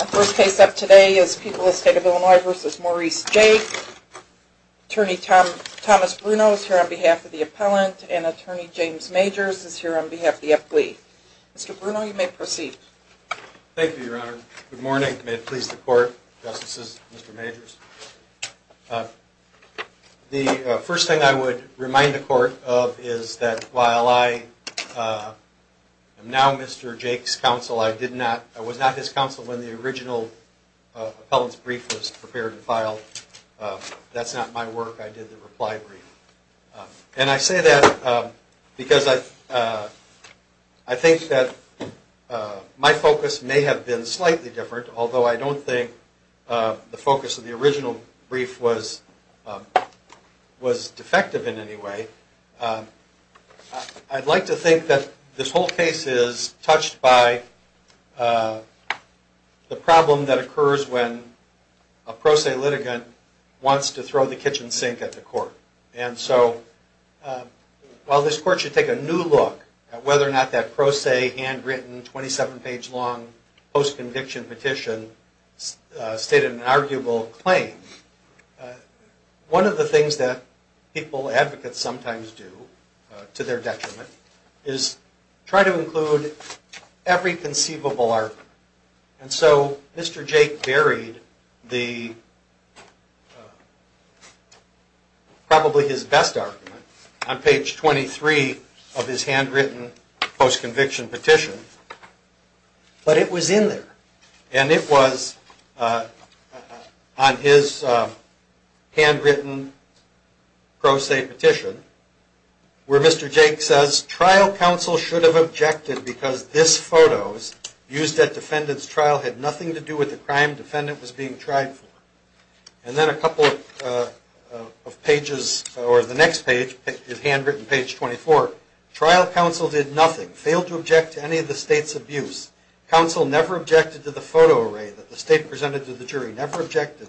Our first case up today is People of the State of Illinois v. Maurice Jake. Attorney Thomas Bruno is here on behalf of the appellant, and Attorney James Majors is here on behalf of the FGLE. Mr. Bruno, you may proceed. Thank you, Your Honor. Good morning. May it please the Court, Justices, Mr. Majors. The first thing I would remind the Court of is that while I am now Mr. Jake's counsel, I was not his counsel when the original appellant's brief was prepared and filed. That's not my work. I did the reply brief. And I say that because I think that my focus may have been slightly different, although I don't think the focus of the original brief was defective in any way. I'd like to think that this whole case is touched by the problem that occurs when a pro se litigant wants to throw the kitchen sink at the Court. And so while this Court should take a new look at whether or not that pro se, handwritten, 27-page long, post-conviction petition stated an arguable claim, one of the things that people, advocates, sometimes do to their detriment is try to include every conceivable argument. And so Mr. Jake buried probably his best argument on page 23 of his handwritten post-conviction petition. But it was in there. And it was on his handwritten pro se petition where Mr. Jake says, trial counsel should have objected because this photo used at defendant's trial had nothing to do with the crime defendant was being tried for. And then a couple of pages, or the next page is handwritten, page 24. Trial counsel did nothing, failed to object to any of the state's abuse. Counsel never objected to the photo array that the state presented to the jury, never objected.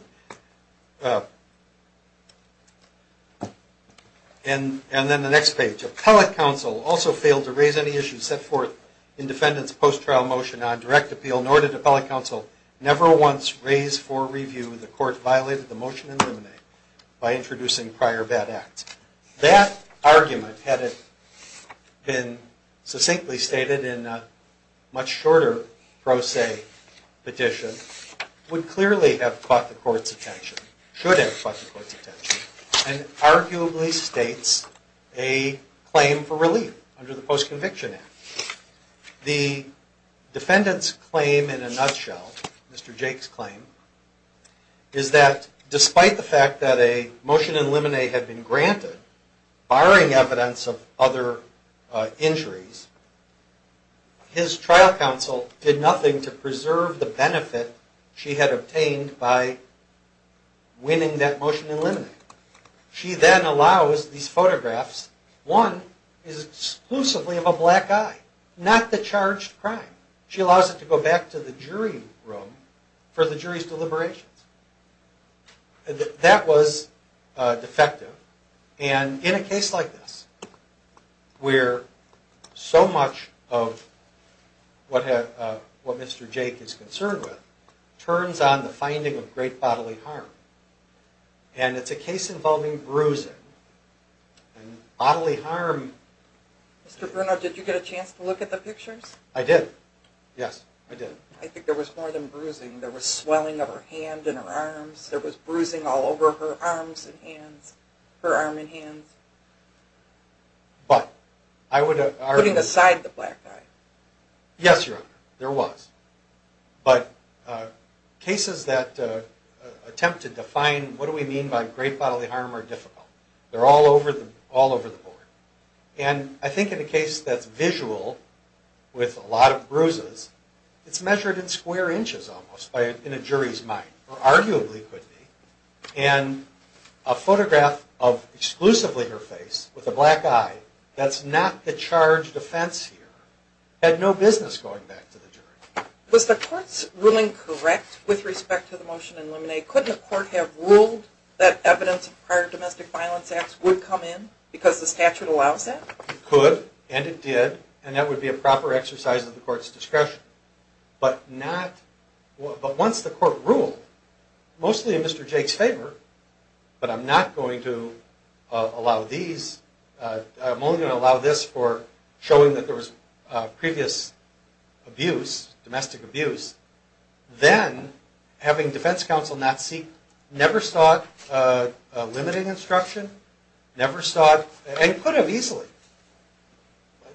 And then the next page. Appellate counsel also failed to raise any issues set forth in defendant's post-trial motion on direct appeal, nor did appellate counsel never once raise for review the court violated the motion in limine by introducing prior bad acts. That argument, had it been succinctly stated in a much shorter pro se petition, would clearly have caught the court's attention, should have caught the court's attention, and arguably states a claim for relief under the Post-Conviction Act. The defendant's claim in a nutshell, Mr. Jake's claim, is that despite the fact that a motion in limine had been granted, barring evidence of other injuries, his trial counsel did nothing to preserve the benefit she had obtained by winning that motion in limine. She then allows these photographs, one is exclusively of a black guy, not the charged crime. She allows it to go back to the jury room for the jury's deliberations. That was defective, and in a case like this, where so much of what Mr. Jake is concerned with, turns on the finding of great bodily harm, and it's a case involving bruising and bodily harm. Mr. Bruno, did you get a chance to look at the pictures? I did, yes, I did. I think there was more than bruising, there was swelling of her hand and her arms, there was bruising all over her arms and hands, her arm and hands. But, I would argue... Putting aside the black guy. Yes, Your Honor, there was. But cases that attempt to define what do we mean by great bodily harm are difficult. They're all over the board. And I think in a case that's visual, with a lot of bruises, it's measured in square inches almost, in a jury's mind, or arguably could be. And a photograph of exclusively her face, with a black eye, that's not the charged offense here, had no business going back to the jury. Was the court's ruling correct with respect to the motion in limine? Couldn't the court have ruled that evidence of prior domestic violence acts would come in, because the statute allows that? It could, and it did, and that would be a proper exercise of the court's discretion. But once the court ruled, mostly in Mr. Jake's favor, but I'm not going to allow these, I'm only going to allow this for showing that there was previous abuse, domestic abuse. Then, having defense counsel not seek, never sought limiting instruction, never sought, and could have easily.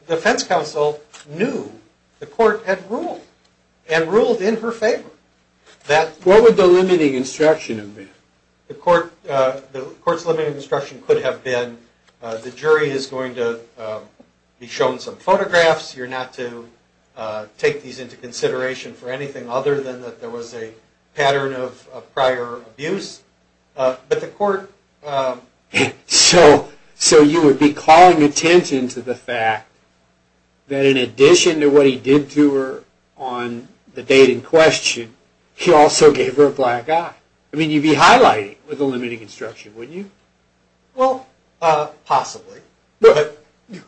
Defense counsel knew the court had ruled, and ruled in her favor. What would the limiting instruction have been? The court's limiting instruction could have been, the jury is going to be shown some photographs, you're not to take these into consideration for anything other than that there was a pattern of prior abuse. But the court... So you would be calling attention to the fact that in addition to what he did to her on the date in question, he also gave her a black eye. I mean, you'd be highlighting with the limiting instruction, wouldn't you? Well, possibly.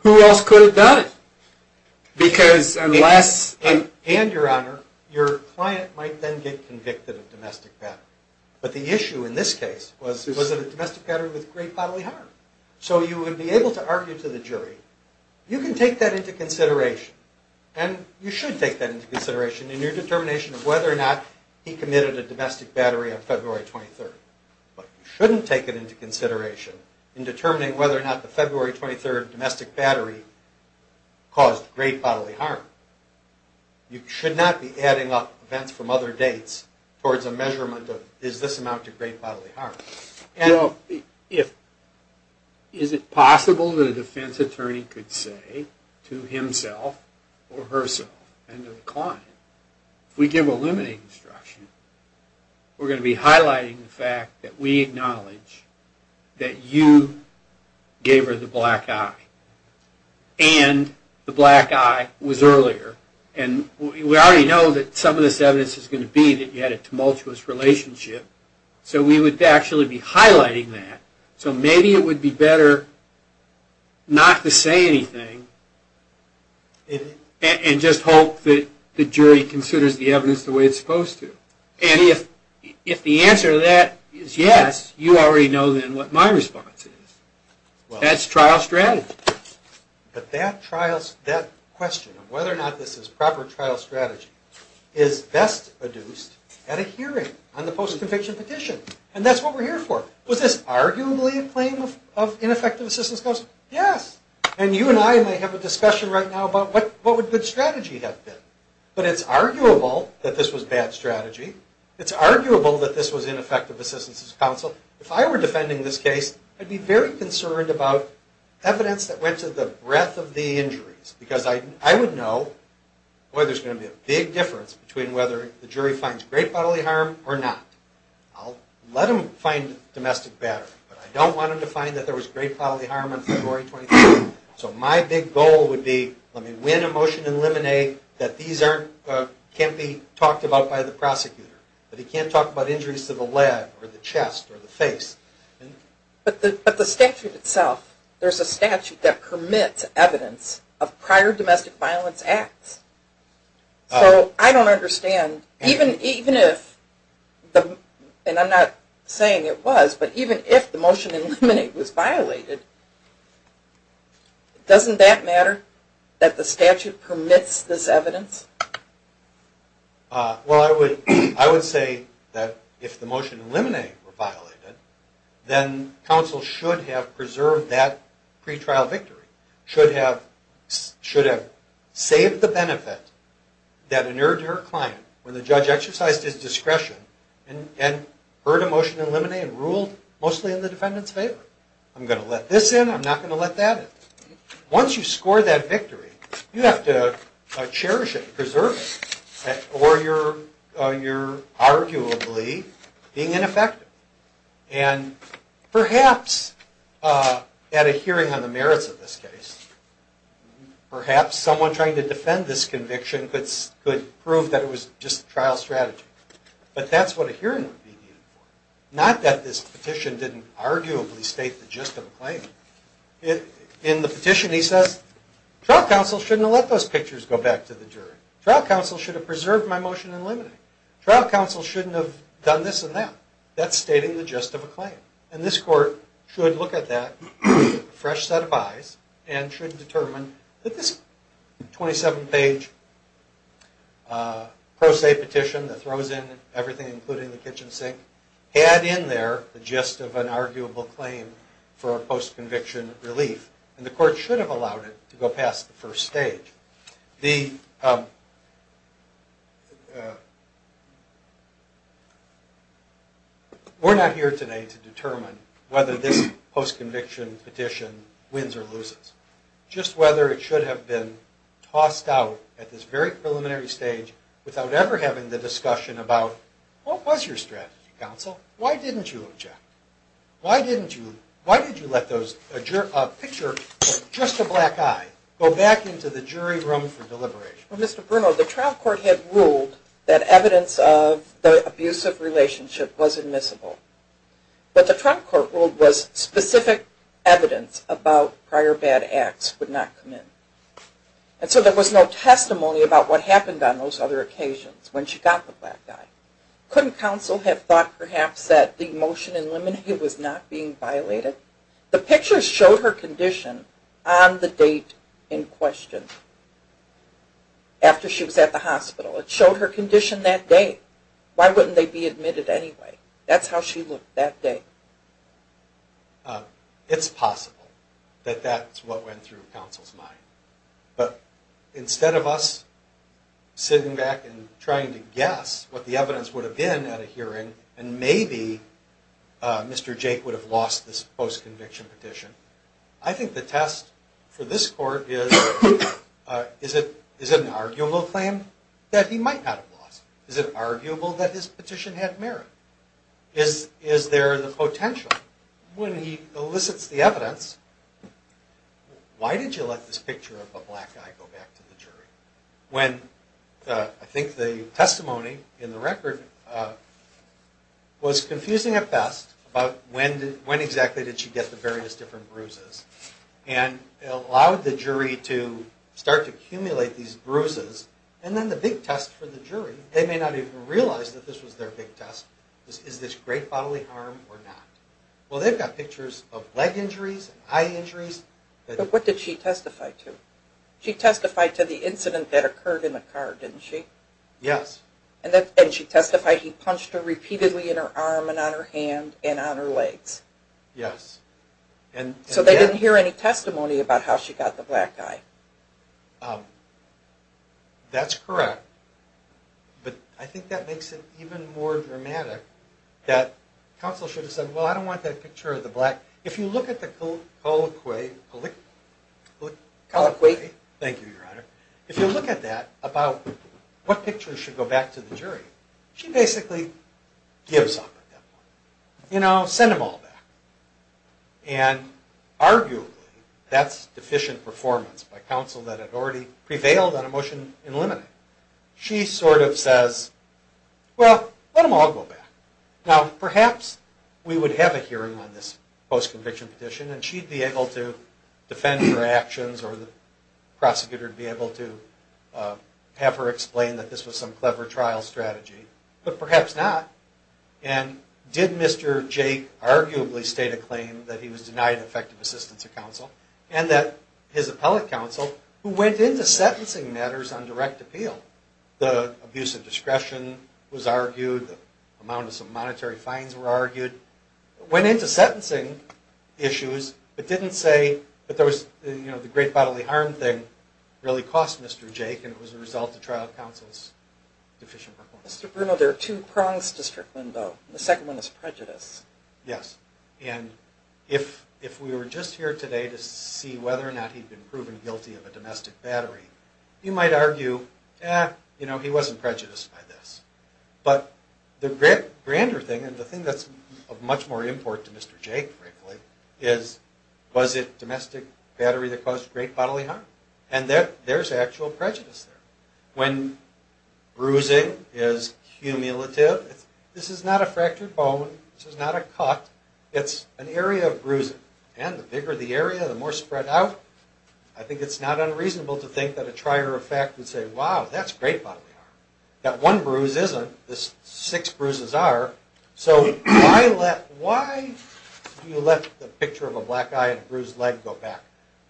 Who else could have done it? Because unless... And, Your Honor, your client might then get convicted of domestic violence. But the issue in this case was, was it a domestic battery with great bodily harm? So you would be able to argue to the jury, you can take that into consideration, and you should take that into consideration in your determination of whether or not he committed a domestic battery on February 23rd. But you shouldn't take it into consideration in determining whether or not the February 23rd domestic battery caused great bodily harm. You should not be adding up events from other dates towards a measurement of, is this amount of great bodily harm? Well, if... Is it possible that a defense attorney could say to himself or herself and to the client, if we give a limiting instruction, we're going to be highlighting the fact that we acknowledge that you gave her the black eye, and the black eye was earlier, and we already know that some of this evidence is going to be that you had a tumultuous relationship, so we would actually be highlighting that. So maybe it would be better not to say anything, and just hope that the jury considers the evidence the way it's supposed to. And if the answer to that is yes, you already know then what my response is. That's trial strategy. But that question of whether or not this is proper trial strategy is best adduced at a hearing on the post-conviction petition. And that's what we're here for. Was this arguably a claim of ineffective assistance counsel? Yes. And you and I may have a discussion right now about what would good strategy have been. But it's arguable that this was bad strategy. It's arguable that this was ineffective assistance counsel. If I were defending this case, I'd be very concerned about evidence that went to the breadth of the injuries, because I would know, boy, there's going to be a big difference between whether the jury finds great bodily harm or not. I'll let them find domestic battery, but I don't want them to find that there was great bodily harm on February 23rd. So my big goal would be, let me win a motion and eliminate that these can't be talked about by the prosecutor, but he can't talk about injuries to the leg or the chest or the face. But the statute itself, there's a statute that permits evidence of prior domestic violence acts. So I don't understand, even if, and I'm not saying it was, but even if the motion to eliminate was violated, doesn't that matter, that the statute permits this evidence? Well, I would say that if the motion to eliminate were violated, then counsel should have preserved that pretrial victory, should have saved the benefit that inured your client when the judge exercised his discretion and heard a motion to eliminate and ruled mostly in the defendant's favor. I'm going to let this in, I'm not going to let that in. Once you score that victory, you have to cherish it, preserve it, or you're arguably being ineffective. And perhaps at a hearing on the merits of this case, perhaps someone trying to defend this conviction could prove that it was just a trial strategy. But that's what a hearing would be needed for. Not that this petition didn't arguably state the gist of the claim. In the petition he says, trial counsel shouldn't have let those pictures go back to the jury. Trial counsel should have preserved my motion to eliminate. Trial counsel shouldn't have done this and that. That's stating the gist of a claim. And this court should look at that with a fresh set of eyes and should determine that this 27-page pro se petition that throws in everything including the kitchen sink had in there the gist of an arguable claim for a post-conviction relief. And the court should have allowed it to go past the first stage. We're not here today to determine whether this post-conviction petition wins or loses. Just whether it should have been tossed out at this very preliminary stage without ever having the discussion about what was your strategy, counsel? Why didn't you object? Why did you let a picture of just a black eye go back into the jury room for deliberation? Well, Mr. Bruno, the trial court had ruled that evidence of the abusive relationship was admissible. What the trial court ruled was specific evidence about prior bad acts would not come in. And so there was no testimony about what happened on those other occasions when she got the black eye. Couldn't counsel have thought perhaps that the motion in limine was not being violated? The picture showed her condition on the date in question after she was at the hospital. It showed her condition that day. Why wouldn't they be admitted anyway? That's how she looked that day. It's possible that that's what went through counsel's mind. But instead of us sitting back and trying to guess what the evidence would have been at a hearing, and maybe Mr. Jake would have lost this post-conviction petition, I think the test for this court is, is it an arguable claim that he might not have lost? Is it arguable that his petition had merit? Is there the potential, when he elicits the evidence, why did you let this picture of a black eye go back to the jury? When I think the testimony in the record was confusing at best about when exactly did she get the various different bruises. And it allowed the jury to start to accumulate these bruises. And then the big test for the jury, they may not even realize that this was their big test, is this great bodily harm or not? Well, they've got pictures of leg injuries, eye injuries. But what did she testify to? She testified to the incident that occurred in the car, didn't she? Yes. And she testified he punched her repeatedly in her arm and on her hand and on her legs. Yes. So they didn't hear any testimony about how she got the black eye. That's correct. But I think that makes it even more dramatic that counsel should have said, well, I don't want that picture of the black. If you look at the colloquy, thank you, Your Honor. If you look at that about what pictures should go back to the jury, she basically gives up at that point. You know, send them all back. And arguably that's deficient performance by counsel that had already prevailed on a motion in limine. She sort of says, well, let them all go back. Now, perhaps we would have a hearing on this post-conviction petition, and she'd be able to defend her actions or the prosecutor would be able to have her explain that this was some clever trial strategy. But perhaps not. And did Mr. Jake arguably state a claim that he was denied effective assistance of counsel and that his appellate counsel, who went into sentencing matters on direct appeal, the abuse of discretion was argued, the amount of some monetary fines were argued, went into sentencing issues but didn't say that there was, you know, the great bodily harm thing really cost Mr. Jake and it was a result of trial counsel's deficient performance. Mr. Bruno, there are two prongs to Strickland, though. The second one is prejudice. Yes. And if we were just here today to see whether or not he'd been proven guilty of a domestic battery, you might argue, eh, you know, he wasn't prejudiced by this. But the grander thing and the thing that's of much more import to Mr. Jake, frankly, is was it domestic battery that caused great bodily harm? And there's actual prejudice there. When bruising is cumulative, this is not a fractured bone. This is not a cut. It's an area of bruising. And the bigger the area, the more spread out. I think it's not unreasonable to think that a trier of fact would say, wow, that's great bodily harm. That one bruise isn't. The six bruises are. So why do you let the picture of a black eye and a bruised leg go back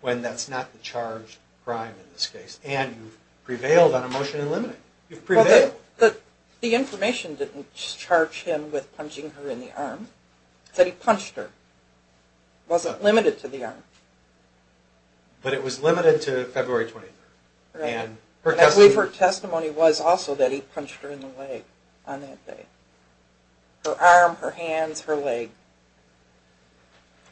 when that's not the charged crime in this case? And you've prevailed on a motion in limiting. You've prevailed. The information didn't charge him with punching her in the arm. It said he punched her. It wasn't limited to the arm. But it was limited to February 23rd. And her testimony was also that he punched her in the leg on that day. Her arm, her hands, her leg.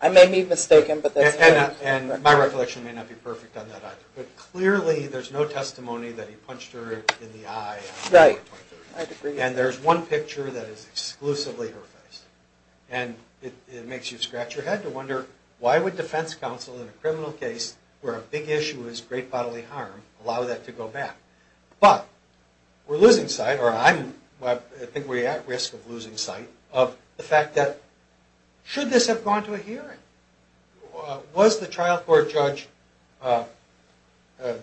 I may be mistaken, but that's not. And my reflection may not be perfect on that either. But clearly there's no testimony that he punched her in the eye on February 23rd. And there's one picture that is exclusively her face. And it makes you scratch your head to wonder, why would defense counsel in a criminal case where a big issue is great bodily harm allow that to go back? But we're losing sight, or I think we're at risk of losing sight, of the fact that should this have gone to a hearing? Was the trial court judge,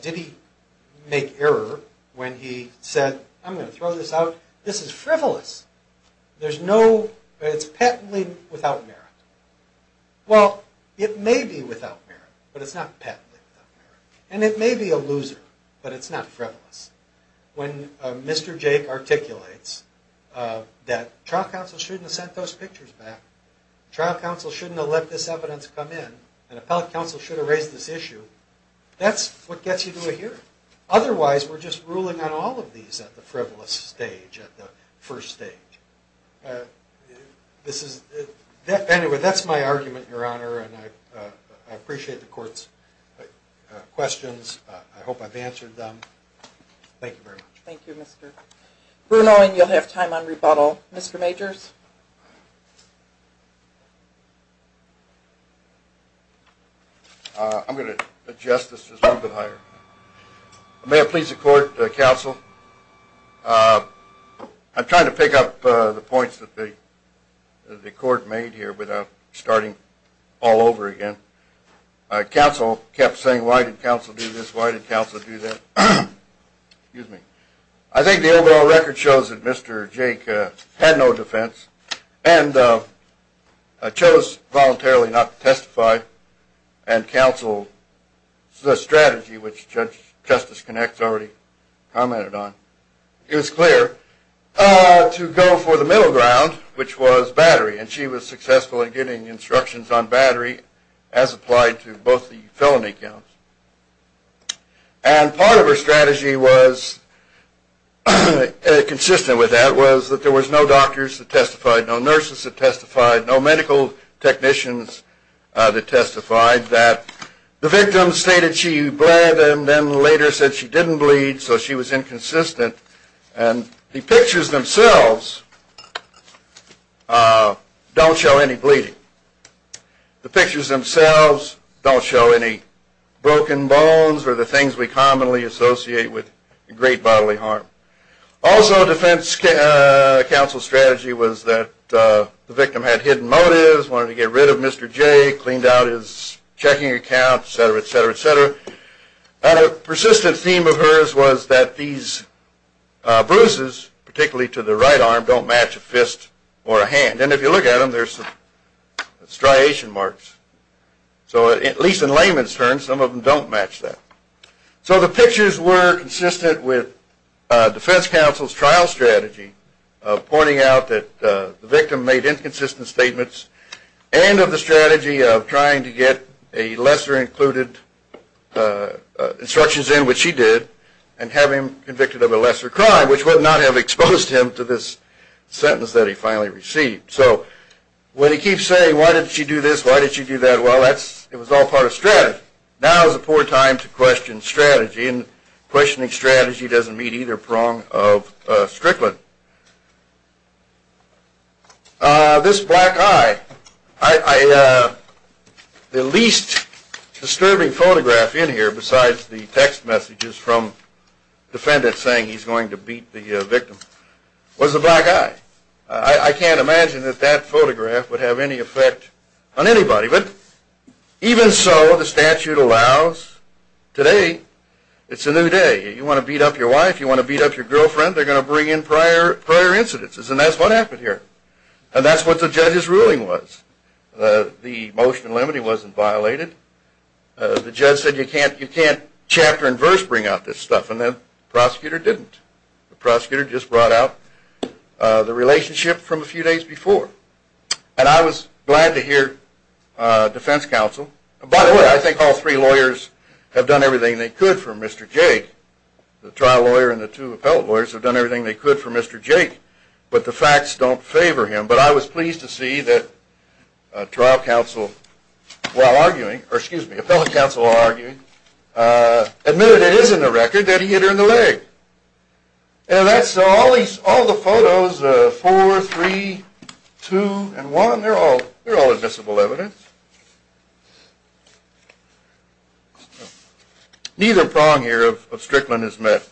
did he make error when he said, I'm going to throw this out. This is frivolous. There's no, it's patently without merit. Well, it may be without merit, but it's not patently without merit. And it may be a loser, but it's not frivolous. When Mr. Jake articulates that trial counsel shouldn't have sent those pictures back, trial counsel shouldn't have let this evidence come in, and appellate counsel should have raised this issue, that's what gets you to a hearing. Otherwise, we're just ruling on all of these at the frivolous stage, at the first stage. Anyway, that's my argument, Your Honor. And I appreciate the court's questions. I hope I've answered them. Thank you very much. Thank you, Mr. Bruno. And you'll have time on rebuttal. Mr. Majors. I'm going to adjust this just a little bit higher. May it please the court, counsel, I'm trying to pick up the points that the court made here without starting all over again. Counsel kept saying, why did counsel do this, why did counsel do that. Excuse me. I think the overall record shows that Mr. Jake had no defense and chose voluntarily not to testify and counsel the strategy, which Justice Connex already commented on. It was clear to go for the middle ground, which was battery, and she was successful in getting instructions on battery as applied to both the felony counts. And part of her strategy was consistent with that, was that there was no doctors that testified, no nurses that testified, no medical technicians that testified. The victim stated she bled and then later said she didn't bleed, so she was inconsistent. And the pictures themselves don't show any bleeding. The pictures themselves don't show any broken bones or the things we commonly associate with great bodily harm. Also defense counsel's strategy was that the victim had hidden motives, wanted to get rid of Mr. Jake, cleaned out his checking account, et cetera, et cetera, et cetera. And a persistent theme of hers was that these bruises, particularly to the right arm, don't match a fist or a hand. And then if you look at them, there's striation marks. So at least in layman's terms, some of them don't match that. So the pictures were consistent with defense counsel's trial strategy, pointing out that the victim made inconsistent statements and of the strategy of trying to get a lesser included instructions in, which she did, and have him convicted of a lesser crime, which would not have exposed him to this sentence that he finally received. So when he keeps saying, why did she do this, why did she do that? Well, it was all part of strategy. Now is a poor time to question strategy, and questioning strategy doesn't meet either prong of Strickland. This black eye, the least disturbing photograph in here besides the text messages from defendants saying he's going to beat the victim, was the black eye. I can't imagine that that photograph would have any effect on anybody. But even so, the statute allows today. It's a new day. You want to beat up your wife? You want to beat up your girlfriend? They're going to bring in prior incidences. And that's what happened here. And that's what the judge's ruling was. The motion in limine wasn't violated. The judge said, you can't chapter and verse bring out this stuff. And the prosecutor didn't. The prosecutor just brought out the relationship from a few days before. And I was glad to hear defense counsel. By the way, I think all three lawyers have done everything they could for Mr. Jake. The trial lawyer and the two appellate lawyers have done everything they could for Mr. Jake. But the facts don't favor him. But I was pleased to see that appellate counsel arguing admitted it is in the record that he hit her in the leg. And all the photos, four, three, two, and one, they're all admissible evidence. Neither prong here of Strickland is met.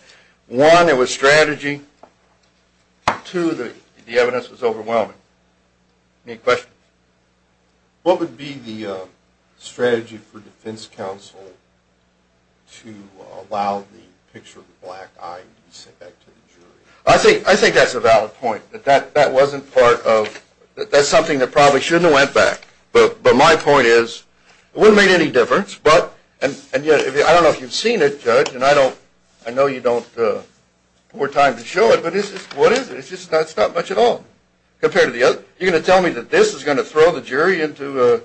One, it was strategy. Two, the evidence was overwhelming. Any questions? What would be the strategy for defense counsel to allow the picture of the black eye to be sent back to the jury? I think that's a valid point. That wasn't part of – that's something that probably shouldn't have went back. But my point is, it wouldn't make any difference. I don't know if you've seen it, Judge, and I know you don't have more time to show it. But what is it? It's just not much at all compared to the other. You're going to tell me that this is going to throw the jury into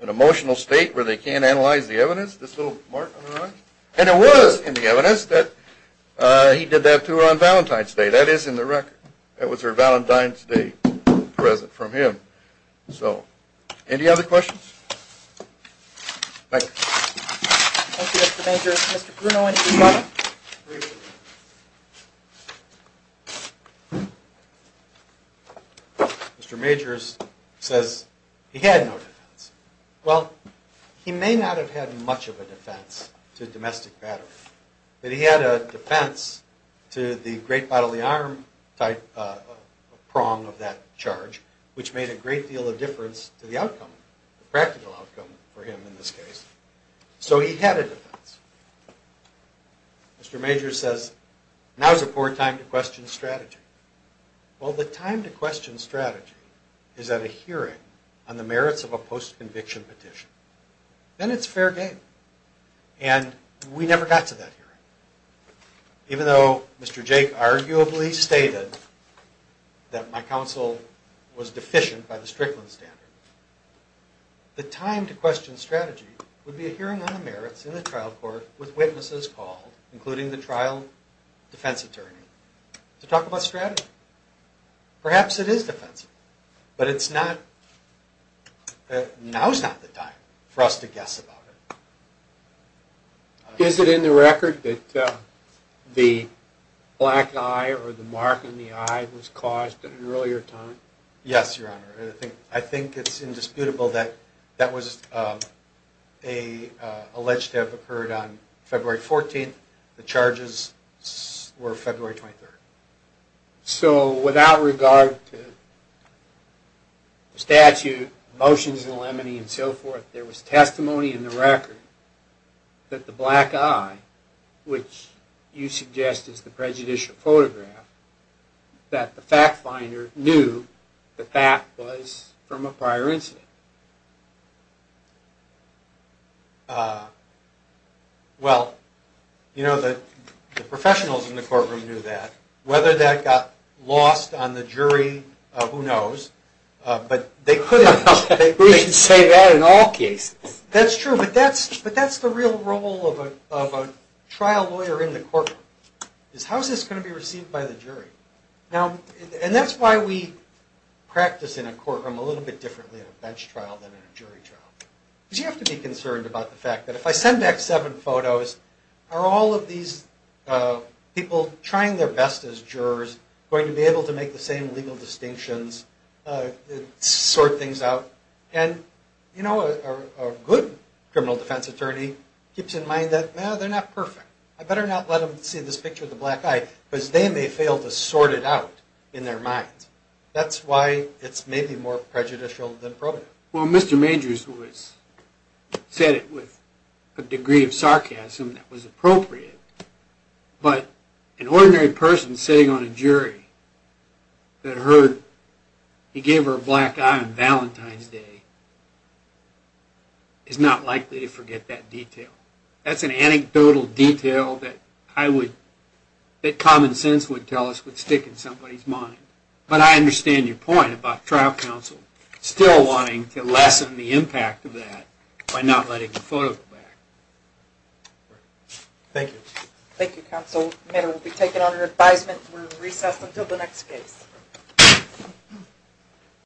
an emotional state where they can't analyze the evidence, this little mark on her eye? And it was in the evidence that he did that to her on Valentine's Day. That is in the record. That was her Valentine's Day present from him. So any other questions? Thank you. Thank you, Mr. Majors. Mr. Bruno, any questions? Mr. Majors says he had no defense. Well, he may not have had much of a defense to domestic battle. But he had a defense to the great bodily arm type prong of that charge, which made a great deal of difference to the outcome. The practical outcome for him in this case. So he had a defense. Mr. Majors says, now's a poor time to question strategy. Well, the time to question strategy is at a hearing on the merits of a post-conviction petition. Then it's fair game. And we never got to that hearing. Even though Mr. Jake arguably stated that my counsel was deficient by the Strickland standard, the time to question strategy would be a hearing on the merits in the trial court with witnesses called, including the trial defense attorney, to talk about strategy. Perhaps it is defensive. But it's not. Now's not the time for us to guess about it. Is it in the record that the black eye or the mark on the eye was caused at an earlier time? Yes, Your Honor. I think it's indisputable that that was alleged to have occurred on February 14th. The charges were February 23rd. So without regard to statute, motions in the limine and so forth, there was testimony in the record that the black eye, which you suggest is the prejudicial photograph, that the fact finder knew that that was from a prior incident. Well, you know, the professionals in the courtroom knew that. Whether that got lost on the jury, who knows. But they could have. We should say that in all cases. That's true. But that's the real role of a trial lawyer in the courtroom, is how is this going to be received by the jury? And that's why we practice in a courtroom a little bit differently in a bench trial than in a jury trial. Because you have to be concerned about the fact that if I send back seven photos, are all of these people trying their best as jurors going to be able to make the same legal distinctions, sort things out? And, you know, a good criminal defense attorney keeps in mind that, no, they're not perfect. I better not let them see this picture of the black eye because they may fail to sort it out in their minds. That's why it's maybe more prejudicial than probative. Well, Mr. Majors said it with a degree of sarcasm that was appropriate. But an ordinary person sitting on a jury that heard he gave her a black eye on Valentine's Day is not likely to forget that detail. That's an anecdotal detail that common sense would tell us would stick in somebody's mind. But I understand your point about trial counsel still wanting to lessen the impact of that by not letting the photo go back. Thank you. Thank you, counsel. The matter will be taken under advisement. We will recess until the next case.